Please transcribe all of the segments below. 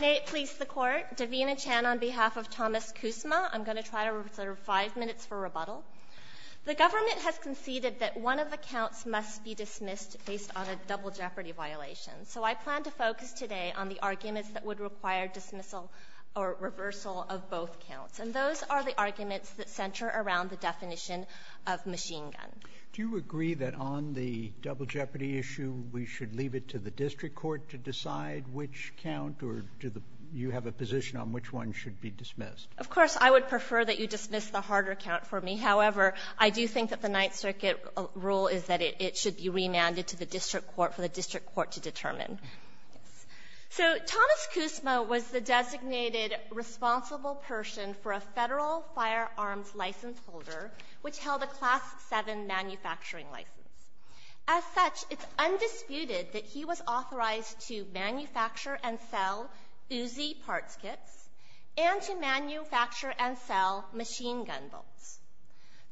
May it please the Court, Davina Chan on behalf of Thomas Kuzma, I'm going to try to reserve five minutes for rebuttal. The government has conceded that one of the counts must be dismissed based on a double jeopardy violation, so I plan to focus today on the arguments that would require dismissal or reversal of both counts, and those are the arguments that center around the definition of machine gun. Do you agree that on the double jeopardy issue we should leave it to the district court to determine which count, or do you have a position on which one should be dismissed? Of course, I would prefer that you dismiss the harder count for me. However, I do think that the Ninth Circuit rule is that it should be remanded to the district court for the district court to determine. So Thomas Kuzma was the designated responsible person for a Federal firearms license holder which held a Class VII manufacturing license. As such, it's undisputed that he was authorized to manufacture and sell Uzi parts kits and to manufacture and sell machine gun bolts.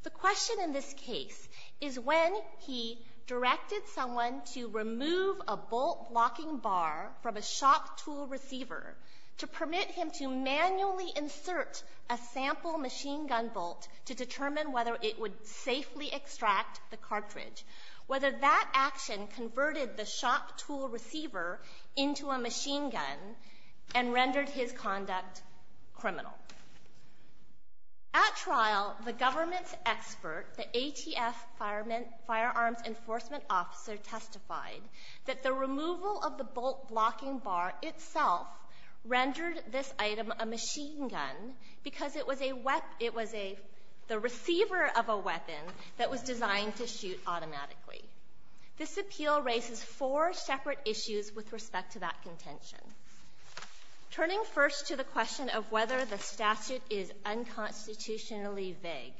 The question in this case is when he directed someone to remove a bolt blocking bar from a shop tool receiver to permit him to manually insert a sample machine gun bolt to determine whether it would safely extract the cartridge, whether that action converted the shop tool receiver into a machine gun and rendered his conduct criminal. At trial, the government's expert, the ATF Firearms Enforcement Officer testified that the removal of the bolt blocking bar itself rendered this item a machine gun because it was the receiver of a weapon that was designed to shoot automatically. This appeal raises four separate issues with respect to that contention. Turning first to the question of whether the statute is unconstitutionally vague,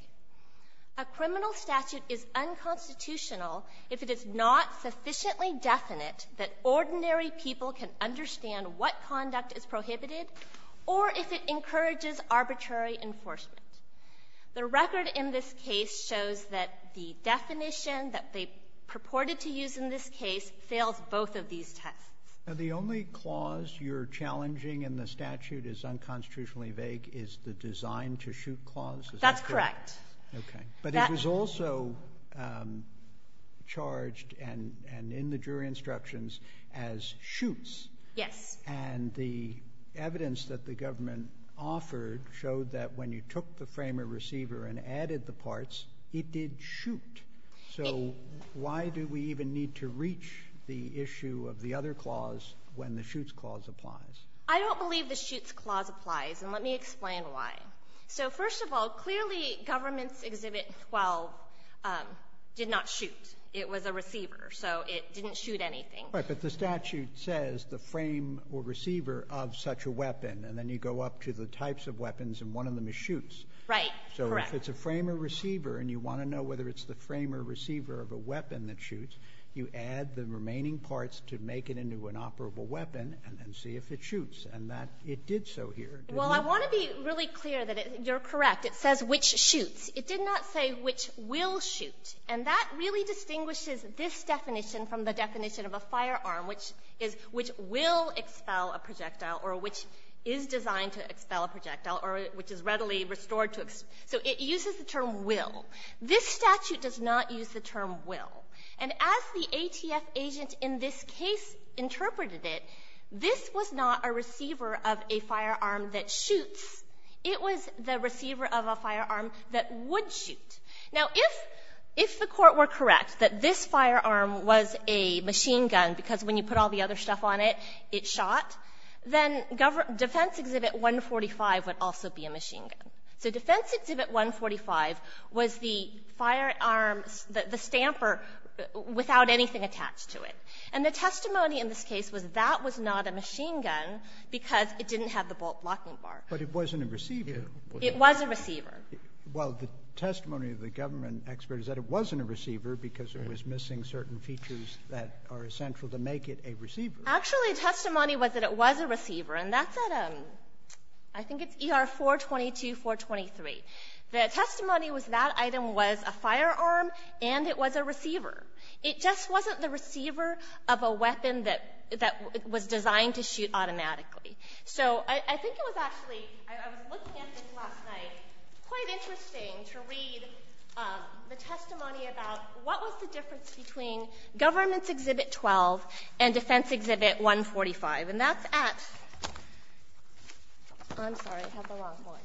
a criminal statute is unconstitutional if it is not sufficiently definite that ordinary people can understand what conduct is prohibited or if it encourages arbitrary enforcement. The record in this case shows that the definition that they purported to use in this case fails both of these tests. Now, the only clause you're challenging in the statute as unconstitutionally vague is the design to shoot clause, is that correct? That's correct. Okay. But it was also charged and in the jury instructions as shoots. Yes. And the evidence that the government offered showed that when you took the frame of receiver and added the parts, it did shoot. So why do we even need to reach the issue of the other clause when the shoots clause applies? I don't believe the shoots clause applies and let me explain why. So first of all, clearly government's exhibit 12 did not shoot. It was a receiver. So it didn't shoot anything. Right. But the statute says the frame or receiver of such a weapon and then you go up to the types of weapons and one of them is shoots. Right. Correct. So if it's a frame or receiver and you want to know whether it's the frame or receiver of a weapon that shoots, you add the remaining parts to make it into an operable weapon and then see if it shoots and that it did so here. Well, I want to be really clear that you're correct. It says which shoots. It did not say which will shoot and that really distinguishes this definition from the definition of a firearm which is — which will expel a projectile or which is designed to expel a projectile or which is readily restored to — so it uses the term will. This statute does not use the term will. And as the ATF agent in this case interpreted it, this was not a receiver of a firearm that shoots. It was the receiver of a firearm that would shoot. Now, if — if the Court were correct that this firearm was a machine gun because when you put all the other stuff on it, it shot, then Defense Exhibit 145 would also be a machine gun. So Defense Exhibit 145 was the firearm, the stamper, without anything attached to it. And the testimony in this case was that was not a machine gun because it didn't have the bolt-blocking bar. But it wasn't a receiver. It was a receiver. Well, the testimony of the government expert is that it wasn't a receiver because it was missing certain features that are essential to make it a receiver. Actually, testimony was that it was a receiver. And that's at — I think it's ER 422, 423. The testimony was that item was a firearm and it was a receiver. It just wasn't the receiver of a weapon that — that was designed to shoot automatically. So I think it was actually — I was looking at this last night. Quite interesting to read the testimony about what was the difference between Governments Exhibit 12 and Defense Exhibit 145. And that's at — I'm sorry, I have the wrong one.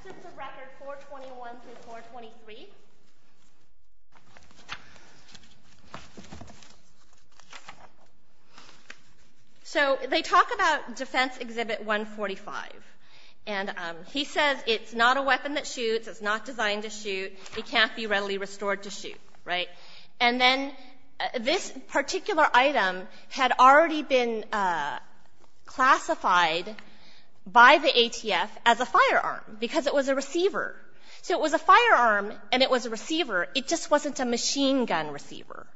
Exits of Record 421 through 423. So they talk about Defense Exhibit 145. And he says it's not a weapon that shoots. It's not designed to shoot. It can't be readily restored to shoot. Right? And then this particular item had already been classified by the ATF as a firearm because it was a receiver. So it was a firearm and it was a receiver. It just wasn't a machine gun receiver.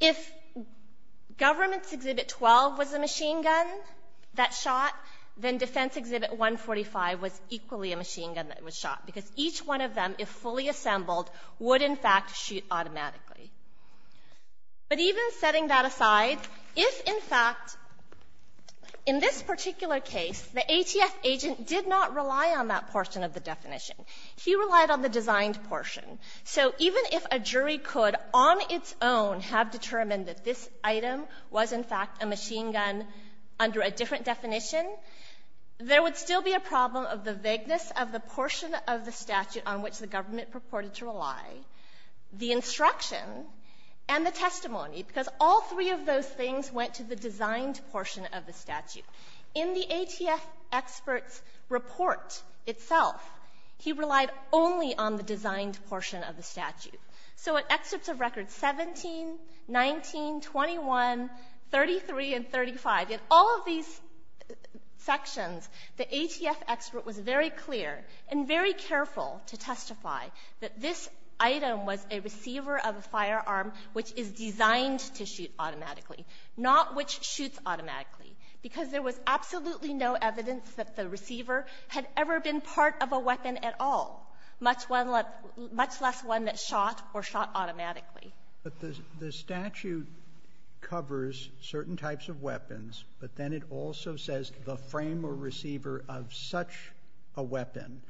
If Governments Exhibit 12 was a machine gun that shot, then Defense Exhibit 145 was equally a machine gun that was shot because each one of them, if fully assembled, would, in fact, shoot automatically. But even setting that aside, if, in fact, in this particular case, the ATF agent did not rely on that portion of the definition. He relied on the designed portion. So even if a jury could, on its own, have determined that this item was, in fact, a machine gun under a different definition, there would still be a problem of the vagueness of the portion of the statute on which the government purported to rely, the instruction, and the testimony, because all three of those things went to the designed portion of the statute. In the ATF expert's report itself, he relied only on the designed portion of the statute. So in excerpts of records 17, 19, 21, 33, and 35, in all of these sections, the ATF expert was very clear and very careful to testify that this item was a receiver of a firearm which is designed to shoot automatically, not which shoots automatically, because there was absolutely no evidence that the receiver had ever been part of a weapon at all, much less one that shot or shot automatically. But the statute covers certain types of weapons, but then it also says the frame or receiver of such a weapon.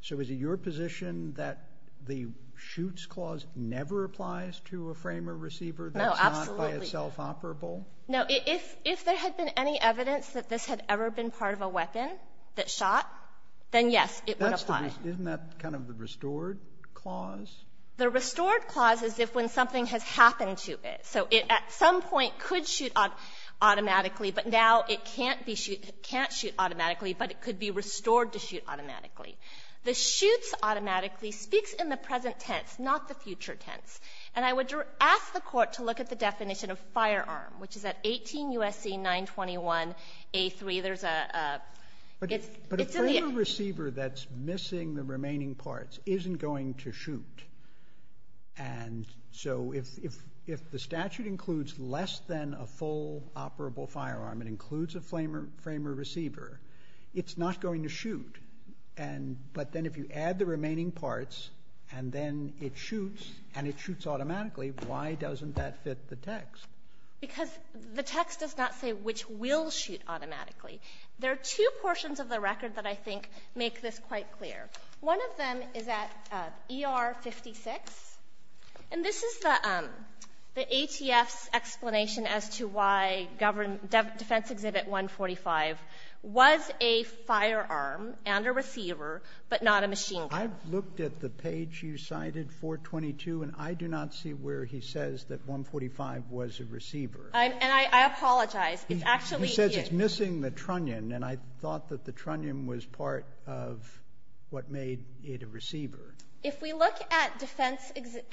So is it your position that the shoots clause never applies to a frame or receiver that's not by itself operable? No. If there had been any evidence that this had ever been part of a weapon that shot, then yes, it would apply. Isn't that kind of the restored clause? The restored clause is if when something has happened to it. So it at some point could shoot automatically, but now it can't be shoot — can't shoot automatically, but it could be restored to shoot automatically. The shoots automatically speaks in the present tense, not the future tense. And I would ask the court to look at the definition of firearm, which is at 18 U.S.C. 921A3. There's a — But a frame or receiver that's missing the remaining parts isn't going to shoot. And so if the statute includes less than a full operable firearm, it includes a frame or receiver, it's not going to shoot. And — but then if you add the remaining parts and then it shoots and it shoots automatically, why doesn't that fit the text? Because the text does not say which will shoot automatically. There are two portions of the record that I think make this quite clear. One of them is at ER 56. And this is the ATF's explanation as to why defense exhibit 145 was a firearm. And a receiver, but not a machine gun. I looked at the page you cited, 422, and I do not see where he says that 145 was a receiver. And I apologize. It's actually — He says it's missing the trunnion. And I thought that the trunnion was part of what made it a receiver. If we look at defense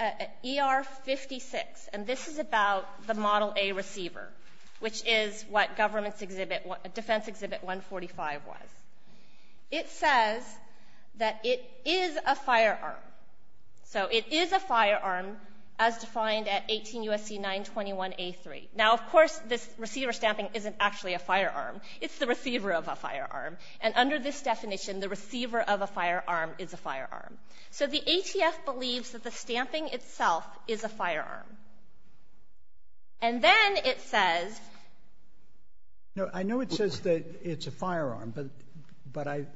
— ER 56, and this is about the Model A receiver, which is what government's exhibit — defense exhibit 145 was. It says that it is a firearm. So it is a firearm as defined at 18 U.S.C. 921A3. Now, of course, this receiver stamping isn't actually a firearm. It's the receiver of a firearm. And under this definition, the receiver of a firearm is a firearm. So the ATF believes that the stamping itself is a firearm. And then it says — No, I know it says that it's a firearm, but I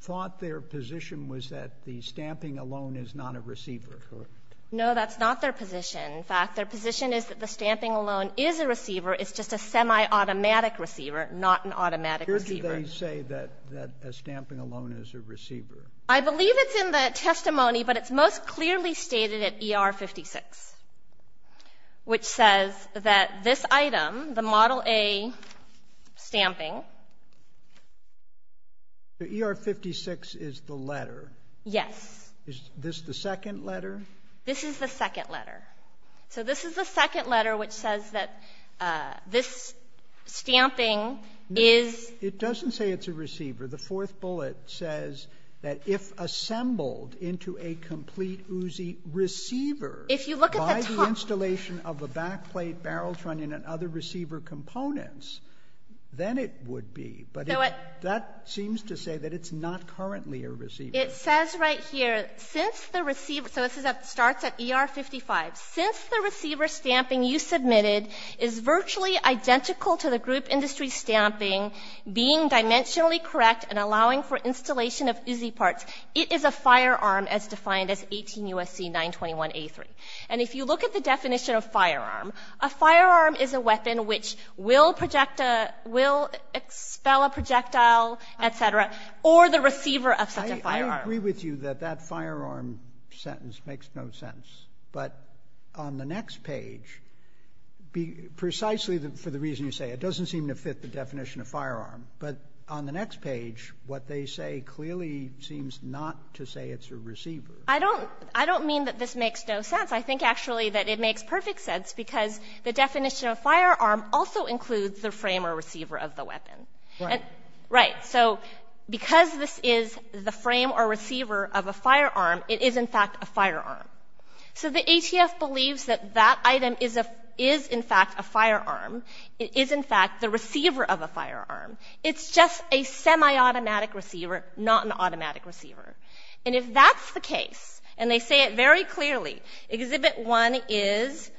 thought their position was that the stamping alone is not a receiver, correct? No, that's not their position. In fact, their position is that the stamping alone is a receiver. It's just a semi-automatic receiver, not an automatic receiver. Here do they say that a stamping alone is a receiver? I believe it's in the testimony, but it's most clearly stated at ER 56, which says that this item, the Model A stamping — The ER 56 is the letter? Yes. Is this the second letter? This is the second letter. So this is the second letter which says that this stamping is — It doesn't say it's a receiver. The fourth bullet says that if assembled into a complete Uzi receiver — If you look at the top — By the installation of the backplate, barrel trunnion, and other receiver components, then it would be, but that seems to say that it's not currently a receiver. It says right here, since the receiver — so this starts at ER 55. Since the receiver stamping you submitted is virtually identical to the group industry stamping, being dimensionally correct, and allowing for installation of Uzi parts, it is a firearm as defined as 18 U.S.C. 921A3. And if you look at the definition of firearm, a firearm is a weapon which will project a — will expel a projectile, et cetera, or the receiver of such a firearm. I agree with you that that firearm sentence makes no sense. But on the next page, precisely for the reason you say, it doesn't seem to fit the definition of firearm. But on the next page, what they say clearly seems not to say it's a receiver. I don't — I don't mean that this makes no sense. I think, actually, that it makes perfect sense because the definition of firearm also includes the frame or receiver of the weapon. Right. Right. So because this is the frame or receiver of a firearm, it is, in fact, a firearm. So the ATF believes that that item is, in fact, a firearm. It is, in fact, the receiver of a firearm. It's just a semi-automatic receiver, not an automatic receiver. And if that's the case, and they say it very clearly, Exhibit 1 is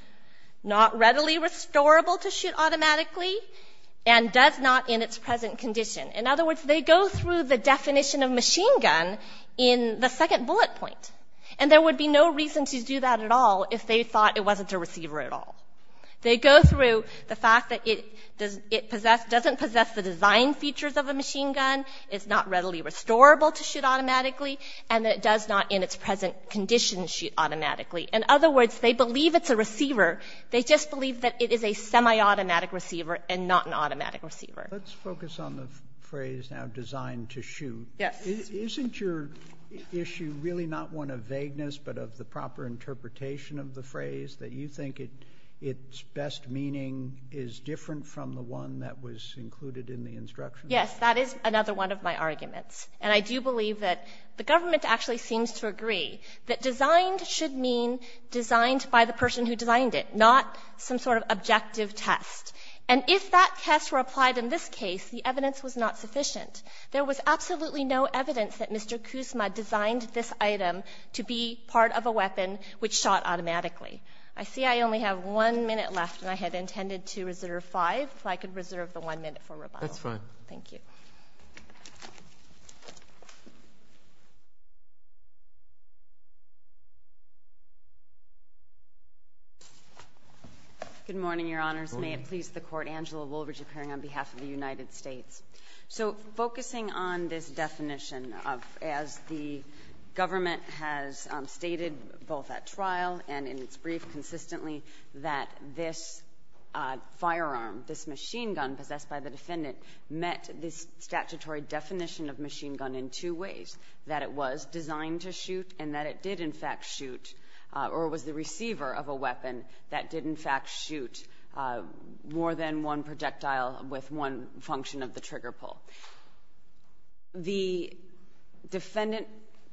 not readily restorable to shoot automatically and does not in its present condition. In other words, they go through the definition of machine gun in the second bullet point. And there would be no reason to do that at all if they thought it wasn't a receiver at all. They go through the fact that it doesn't possess the design features of a machine gun. It's not readily restorable to shoot automatically. And it does not in its present condition shoot automatically. In other words, they believe it's a receiver. They just believe that it is a semi-automatic receiver and not an automatic receiver. Let's focus on the phrase now, designed to shoot. Isn't your issue really not one of vagueness, but of the proper interpretation of the phrase that you think its best meaning is different from the one that was included in the instruction? Yes. That is another one of my arguments. And I do believe that the government actually seems to agree that designed should mean designed by the person who designed it, not some sort of objective test. And if that test were applied in this case, the evidence was not sufficient. There was absolutely no evidence that Mr. Kuzma designed this item to be part of a weapon which shot automatically. I see I only have one minute left, and I had intended to reserve five. If I could reserve the one minute for rebuttal. That's fine. Thank you. Good morning, Your Honors. May it please the Court. Angela Woolridge appearing on behalf of the United States. So focusing on this definition of, as the government has stated, both at trial and in its brief consistently, that this firearm, this machine gun possessed by the defendant met this statutory definition of machine gun in two ways, that it was designed to shoot and that it did in fact shoot or was the receiver of a weapon that did in fact shoot more than one projectile with one function of the trigger pull. The defendant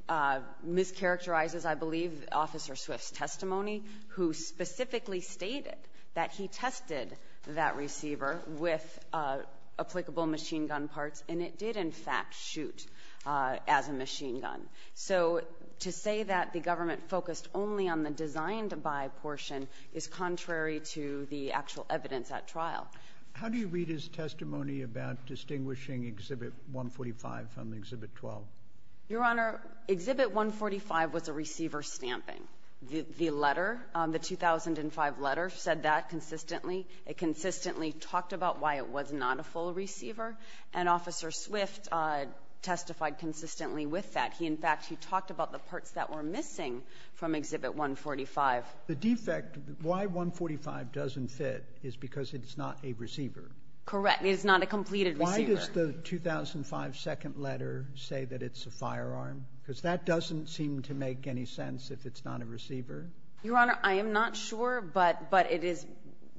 mischaracterizes, I believe, Officer Swift's testimony, who specifically stated that he tested that receiver with applicable machine gun parts and it did in fact shoot as a machine gun. So to say that the government focused only on the designed by portion is contrary to the actual evidence at trial. How do you read his testimony about distinguishing Exhibit 145 from Exhibit 12? Your Honor, Exhibit 145 was a receiver stamping. The letter, the 2005 letter said that consistently. It consistently talked about why it was not a full receiver and Officer Swift testified consistently with that. He in fact, he talked about the parts that were missing from Exhibit 145. The defect, why 145 doesn't fit is because it's not a receiver. Correct. It is not a completed receiver. Why does the 2005 second letter say that it's a firearm? Because that doesn't seem to make any sense if it's not a receiver. Your Honor, I am not sure, but it is,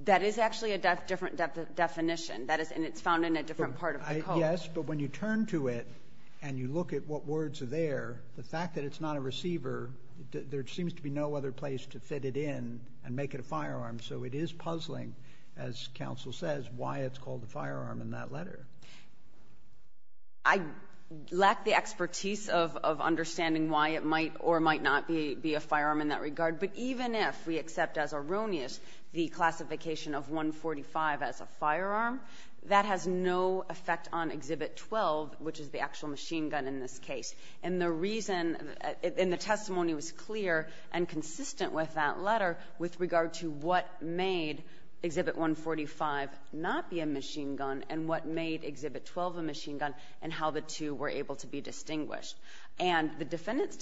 that is actually a different definition. That is, and it's found in a different part of the code. Yes, but when you turn to it and you look at what words are there, the fact that it's not a receiver, there seems to be no other place to fit it in and make it a firearm. So it is puzzling, as counsel says, why it's called a firearm in that letter. I lack the expertise of understanding why it might or might not be a firearm in that regard, but even if we accept as erroneous the classification of 145 as a firearm, that has no effect on Exhibit 12, which is the actual machine gun in this case. And the reason, and the testimony was clear and consistent with that letter with regard to what made Exhibit 145 not be a machine gun and what made Exhibit 12 a machine gun and how the two were able to be distinguished. And the defendant's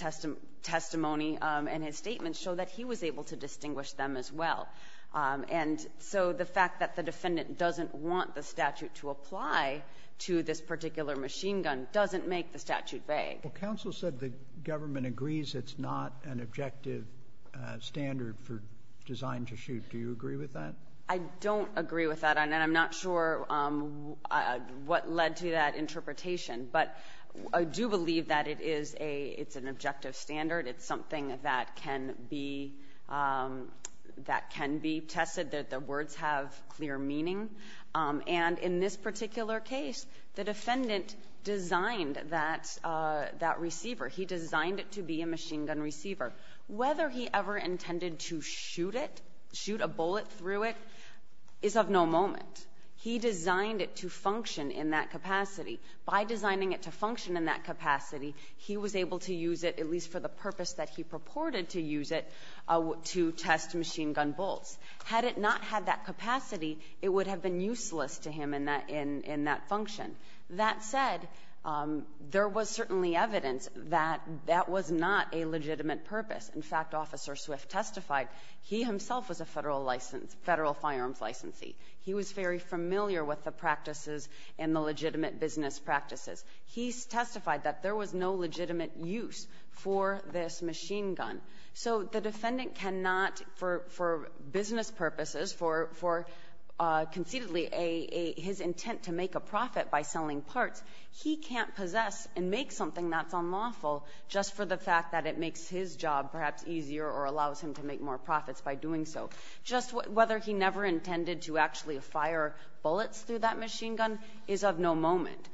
testimony and his statement show that he was able to distinguish them as well. And so the fact that the defendant doesn't want the statute to apply to this particular machine gun doesn't make the statute vague. Well, counsel said the government agrees it's not an objective standard for design to shoot. Do you agree with that? I don't agree with that, and I'm not sure what led to that interpretation. But I do believe that it is a, it's an objective standard. It's something that can be, that can be tested, that the words have clear meaning. And in this particular case, the defendant designed that receiver. He designed it to be a machine gun receiver. Whether he ever intended to shoot it, shoot a bullet through it, is of no moment. He designed it to function in that capacity. By designing it to function in that capacity, he was able to use it, at least for the purpose that he purported to use it, to test machine gun bolts. Had it not had that capacity, it would have been useless to him in that function. That said, there was certainly evidence that that was not a legitimate purpose. In fact, Officer Swift testified, he himself was a federal license, federal firearms licensee. He was very familiar with the practices and the legitimate business practices. He testified that there was no legitimate use for this machine gun. So the defendant cannot, for business purposes, for conceitedly his intent to make a profit by selling parts, he can't possess and make something that's unlawful just for the fact that it makes his job perhaps easier or allows him to make more profits by doing so. Just whether he never intended to actually fire bullets through that machine gun is of no moment.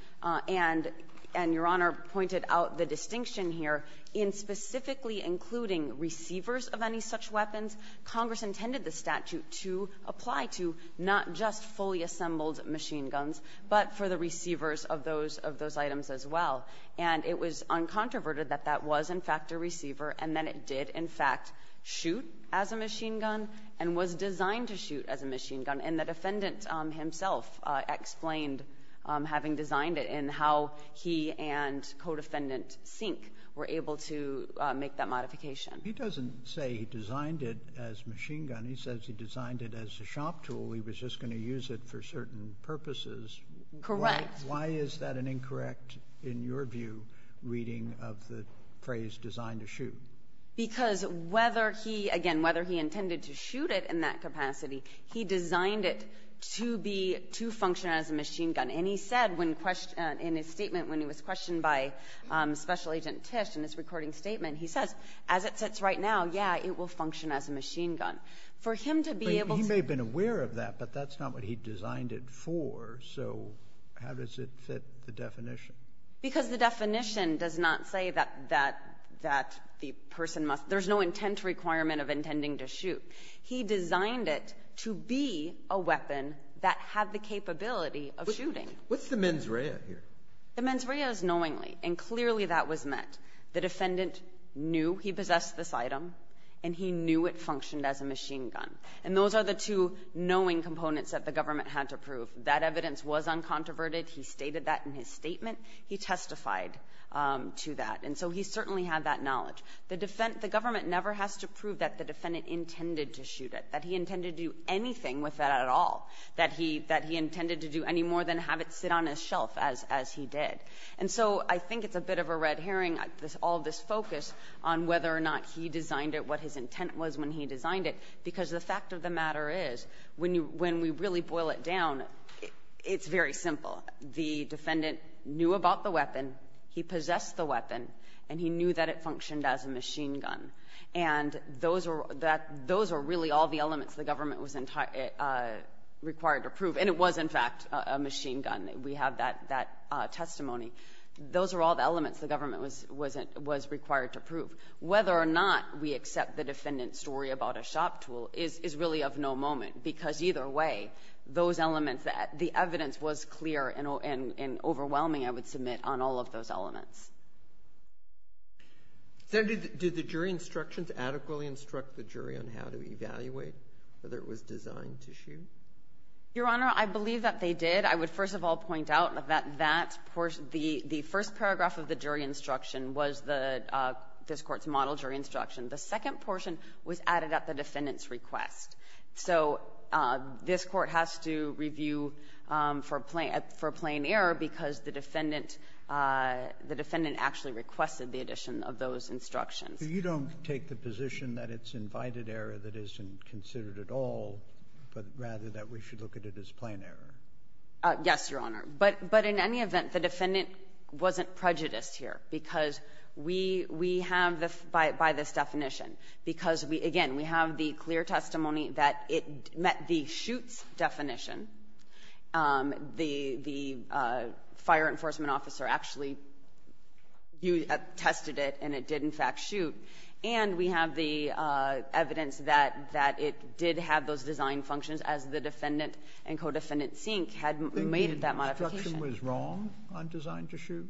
And Your Honor pointed out the distinction here in specifically including receivers of any such weapons. Congress intended the statute to apply to not just fully assembled machine guns, but for the receivers of those items as well. And it was uncontroverted that that was, in fact, a receiver and that it did, in fact, shoot as a machine gun and was designed to shoot as a machine gun. And the defendant himself explained having designed it and how he and co-defendant Sink were able to make that modification. He doesn't say he designed it as machine gun. He says he designed it as a shop tool. He was just going to use it for certain purposes. Correct. Why is that an incorrect, in your view, reading of the phrase designed to shoot? Because whether he, again, whether he intended to shoot it in that capacity, he designed it to be, to function as a machine gun. And he said when, in his statement, when he was questioned by Special Agent Tisch in his recording statement, he says, as it sits right now, yeah, it will function as a machine gun. For him to be able to- But he may have been aware of that, but that's not what he designed it for. So how does it fit the definition? Because the definition does not say that the person must, there's no intent requirement of intending to shoot. He designed it to be a weapon that had the capability of shooting. What's the mens rea here? The mens rea is knowingly, and clearly that was met. The defendant knew he possessed this item, and he knew it functioned as a machine gun. And those are the two knowing components that the government had to prove. That evidence was uncontroverted. He stated that in his statement. He testified to that. And so he certainly had that knowledge. The government never has to prove that the defendant intended to shoot it, that he intended to do anything with that at all, that he intended to do any more than have it sit on his shelf as he did. And so I think it's a bit of a red herring, all this focus on whether or not he designed it, what his intent was when he designed it. Because the fact of the matter is, when we really boil it down, it's very simple. The defendant knew about the weapon, he possessed the weapon, and he knew that it functioned as a machine gun. And those are really all the elements the government was required to prove. And it was, in fact, a machine gun. We have that testimony. Those are all the elements the government was required to prove. Whether or not we accept the defendant's story about a shop tool is really of no moment, because either way, those elements, the evidence was clear and overwhelming, I would submit, on all of those elements. So did the jury instructions adequately instruct the jury on how to evaluate whether it was designed to shoot? Your Honor, I believe that they did. I would first of all point out that that portion, the first paragraph of the jury instruction was this Court's model jury instruction. The second portion was added at the defendant's request. So this Court has to review for plain error, because the defendant actually requested the addition of those instructions. So you don't take the position that it's invited error that isn't considered at all, but rather that we should look at it as plain error? Yes, Your Honor. But in any event, the defendant wasn't prejudiced here, because we have, by this definition, because, again, we have the clear testimony that it met the shoots definition. The fire enforcement officer actually tested it, and it did, in fact, shoot. And we have the evidence that it did have those design functions, as the defendant and co-defendant Sink had made that modification. Do you think the instruction was wrong on designed to shoot?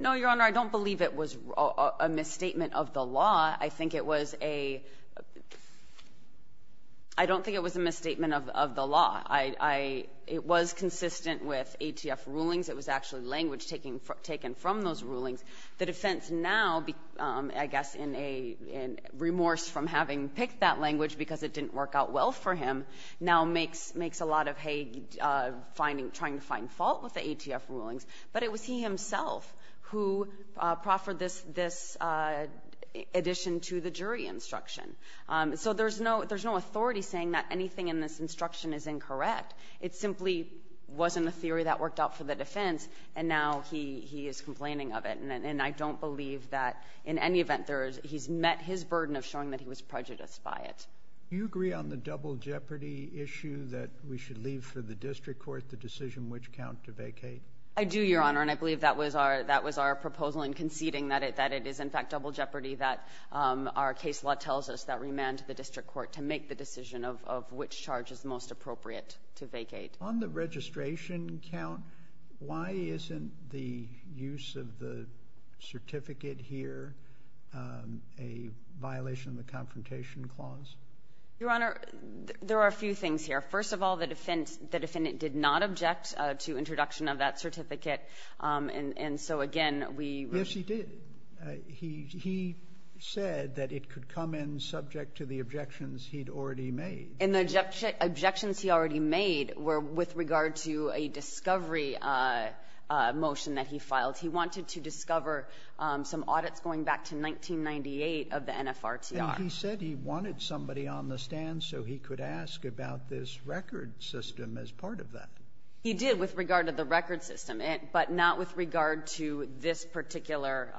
No, Your Honor. I don't believe it was a misstatement of the law. I think it was a... I don't think it was a misstatement of the law. I... It was consistent with ATF rulings. It was actually language taken from those rulings. The defense now, I guess in a remorse from having picked that language because it didn't work out well for him, now makes a lot of hay trying to find fault with the ATF rulings. But it was he himself who proffered this addition to the jury instruction. So there's no authority saying that anything in this instruction is incorrect. It simply wasn't a theory that worked out for the defense, and now he is complaining of it. And I don't believe that in any event he's met his burden of showing that he was prejudiced by it. Do you agree on the double jeopardy issue that we should leave for the district court the decision which count to vacate? I do, Your Honor. And I believe that was our proposal in conceding that it is, in fact, double And that's why this law tells us that remand to the district court to make the decision of which charge is most appropriate to vacate. On the registration count, why isn't the use of the certificate here a violation of the Confrontation Clause? Your Honor, there are a few things here. First of all, the defendant did not object to introduction of that certificate. And so, again, we... Yes, he did. He said that it could come in subject to the objections he'd already made. And the objections he already made were with regard to a discovery motion that he filed. He wanted to discover some audits going back to 1998 of the NFRTR. And he said he wanted somebody on the stand so he could ask about this record system as part of that. He did with regard to the record system, but not with regard to this particular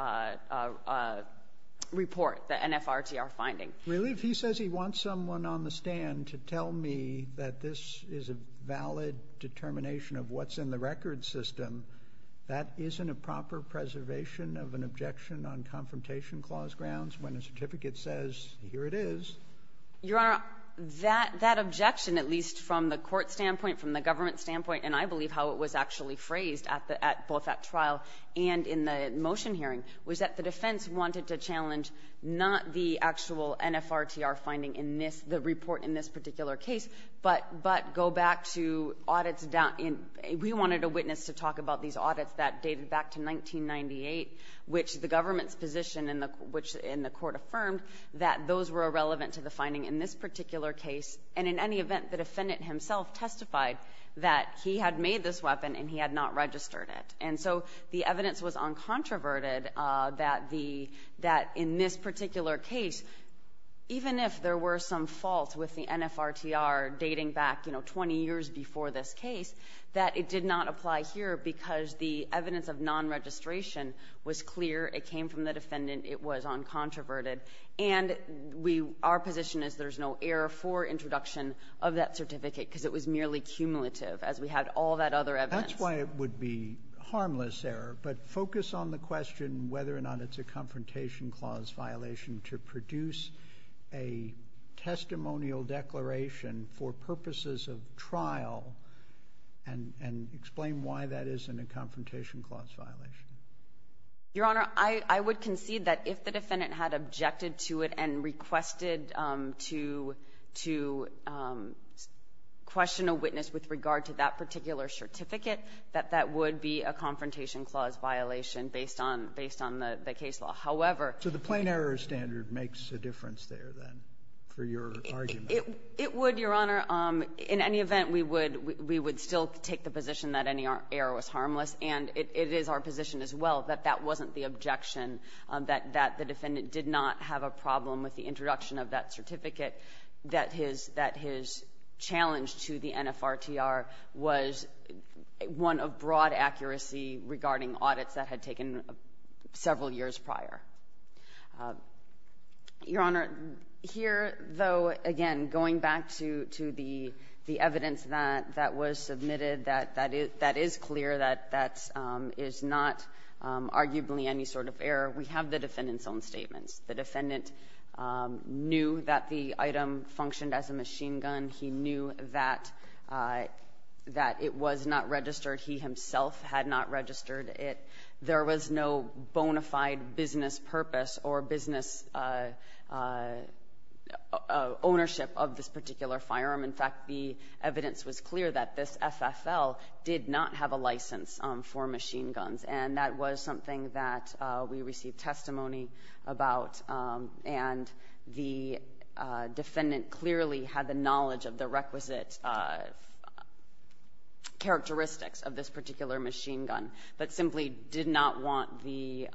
report, the NFRTR finding. Really? If he says he wants someone on the stand to tell me that this is a valid determination of what's in the record system, that isn't a proper preservation of an objection on Confrontation Clause grounds when a certificate says, here it is? Your Honor, that objection, at least from the court standpoint, from the defendant's standpoint, and I believe how it was actually phrased at the at both at trial and in the motion hearing, was that the defense wanted to challenge not the actual NFRTR finding in this, the report in this particular case, but go back to audits down in, we wanted a witness to talk about these audits that dated back to 1998, which the government's position in the court affirmed that those were irrelevant to the finding in this particular case. And in any event, the defendant himself testified that he had made this weapon and he had not registered it. And so the evidence was uncontroverted that the, that in this particular case, even if there were some faults with the NFRTR dating back, you know, 20 years before this case, that it did not apply here because the evidence of non-registration was clear. It came from the defendant. It was uncontroverted. And we, our position is there's no error for introduction of that certificate because it was merely cumulative as we had all that other evidence. That's why it would be harmless error. But focus on the question whether or not it's a confrontation clause violation to produce a testimonial declaration for purposes of trial and, and explain why that isn't a confrontation clause violation. Your Honor, I, I would concede that if the defendant had objected to it and requested to, to question a witness with regard to that particular certificate, that that would be a confrontation clause violation based on, based on the, the case law. However. So the plain error standard makes a difference there, then, for your argument? It, it would, Your Honor. In any event, we would, we would still take the position that any error was harmless and it, it is our position as well that that wasn't the objection, that, that the defendant did not have a problem with the introduction of that certificate, that his, that his challenge to the NFRTR was one of broad accuracy regarding audits that had taken several years prior. Your Honor, here though, again, going back to, to the, the evidence that, that was not arguably any sort of error, we have the defendant's own statements. The defendant knew that the item functioned as a machine gun. He knew that, that it was not registered. He himself had not registered it. There was no bona fide business purpose or business ownership of this particular firearm. In fact, the evidence was clear that this FFL did not have a license for machine guns, and that was something that we received testimony about, and the defendant clearly had the knowledge of the requisite characteristics of this particular machine gun, but simply did not want the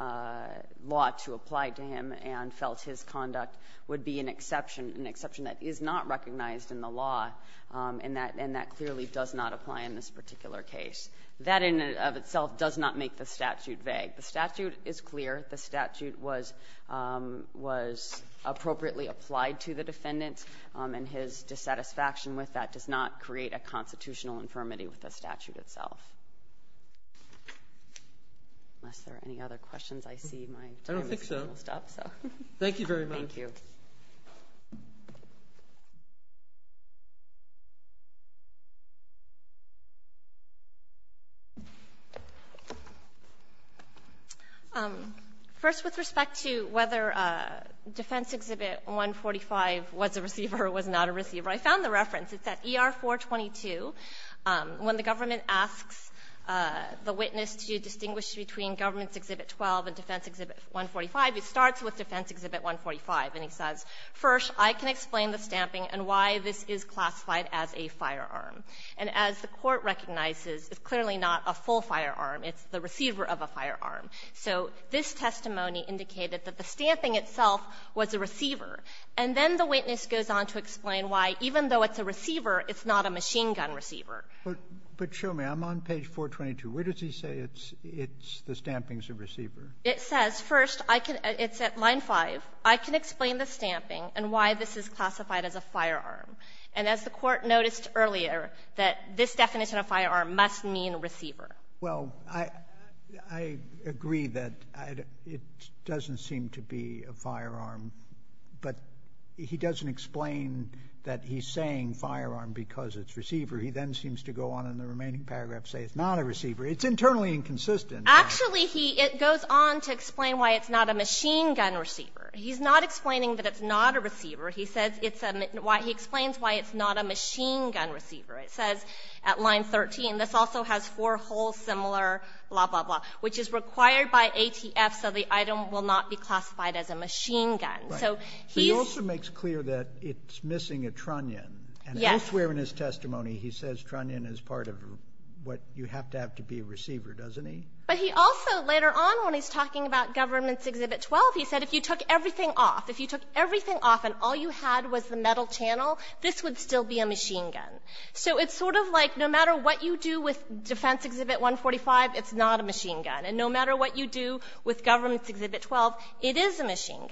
law to apply to him and felt his conduct would be an exception, an exception that is not recognized in the law, and that, and that clearly does not apply in this particular case. That in and of itself does not make the statute vague. The statute is clear. The statute was, was appropriately applied to the defendant, and his dissatisfaction with that does not create a constitutional infirmity with the statute itself. Unless there are any other questions, I see my time is almost up, so. I don't think so. Thank you very much. Thank you. First, with respect to whether Defense Exhibit 145 was a receiver or was not a receiver, I found the reference. It's at ER 422. When the government asks the witness to distinguish between Government's Exhibit 12 and Defense Exhibit 145, it starts with Defense Exhibit 145. And he says, first, I can explain the stamping and why this is classified as a firearm. And as the Court recognizes, it's clearly not a full firearm. It's the receiver of a firearm. So this testimony indicated that the stamping itself was a receiver. And then the witness goes on to explain why, even though it's a receiver, it's not a machine gun receiver. But show me. I'm on page 422. Where does he say it's the stamping's a receiver? It says, first, I can — it's at line 5. I can explain the stamping and why this is classified as a firearm. And as the Court noticed earlier, that this definition of firearm must mean receiver. Well, I agree that it doesn't seem to be a firearm. But he doesn't explain that he's saying firearm because it's receiver. He then seems to go on in the remaining paragraph to say it's not a receiver. It's internally inconsistent. Actually, he — it goes on to explain why it's not a machine gun receiver. He's not explaining that it's not a receiver. He says it's a — he explains why it's not a machine gun receiver. It says at line 13, this also has four holes similar, blah, blah, blah, which is required by ATF so the item will not be classified as a machine gun. So he's — He also makes clear that it's missing a trunnion. Yes. I swear in his testimony he says trunnion is part of what you have to have to be a receiver, doesn't he? But he also, later on when he's talking about Government's Exhibit 12, he said if you took everything off, if you took everything off and all you had was the metal channel, this would still be a machine gun. So it's sort of like no matter what you do with Defense Exhibit 145, it's not a machine gun. And no matter what you do with Government's Exhibit 12, it is a machine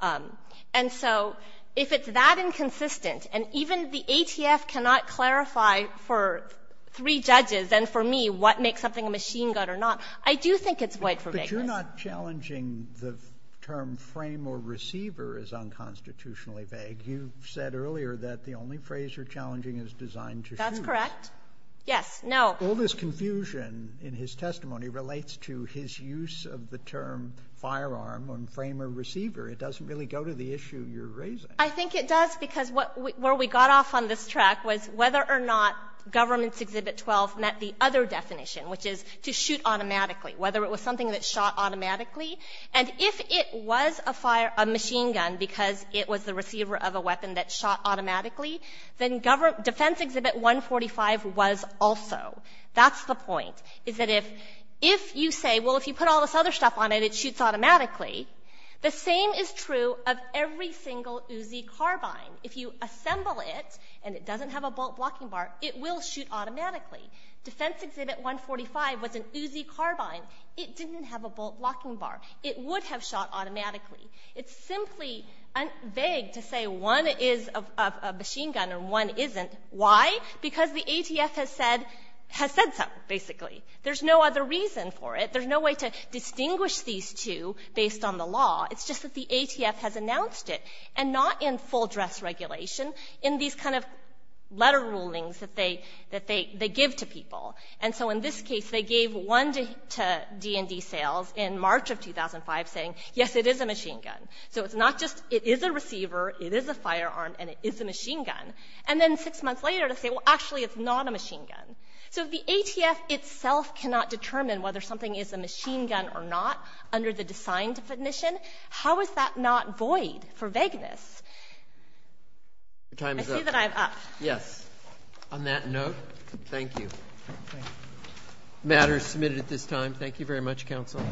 gun. And so if it's that inconsistent, and even the ATF cannot clarify for three judges and for me what makes something a machine gun or not, I do think it's void for vagueness. But you're not challenging the term frame or receiver as unconstitutionally vague. You said earlier that the only phrase you're challenging is designed to shoot. That's correct. Yes. Now — All this confusion in his testimony relates to his use of the term firearm on frame or receiver. It doesn't really go to the issue you're raising. I think it does, because where we got off on this track was whether or not Government's Exhibit 12 met the other definition, which is to shoot automatically, whether it was something that shot automatically. And if it was a machine gun because it was the receiver of a weapon that shot automatically, then Defense Exhibit 145 was also. That's the point, is that if you say, well, if you put all this other stuff on it, it will shoot automatically. The same is true of every single Uzi carbine. If you assemble it and it doesn't have a bolt blocking bar, it will shoot automatically. Defense Exhibit 145 was an Uzi carbine. It didn't have a bolt blocking bar. It would have shot automatically. It's simply vague to say one is a machine gun and one isn't. Why? Because the ATF has said so, basically. There's no other reason for it. There's no way to distinguish these two based on the law. It's just that the ATF has announced it, and not in full dress regulation, in these kind of letter rulings that they give to people. And so in this case, they gave one to D&D sales in March of 2005, saying, yes, it is a machine gun. So it's not just, it is a receiver, it is a firearm, and it is a machine gun. And then six months later, they say, well, actually, it's not a machine gun. So if the ATF itself cannot determine whether something is a machine gun or not under the design definition, how is that not void for vagueness? I see that I'm up. Yes. On that note, thank you. The matter is submitted at this time. Thank you very much, counsel.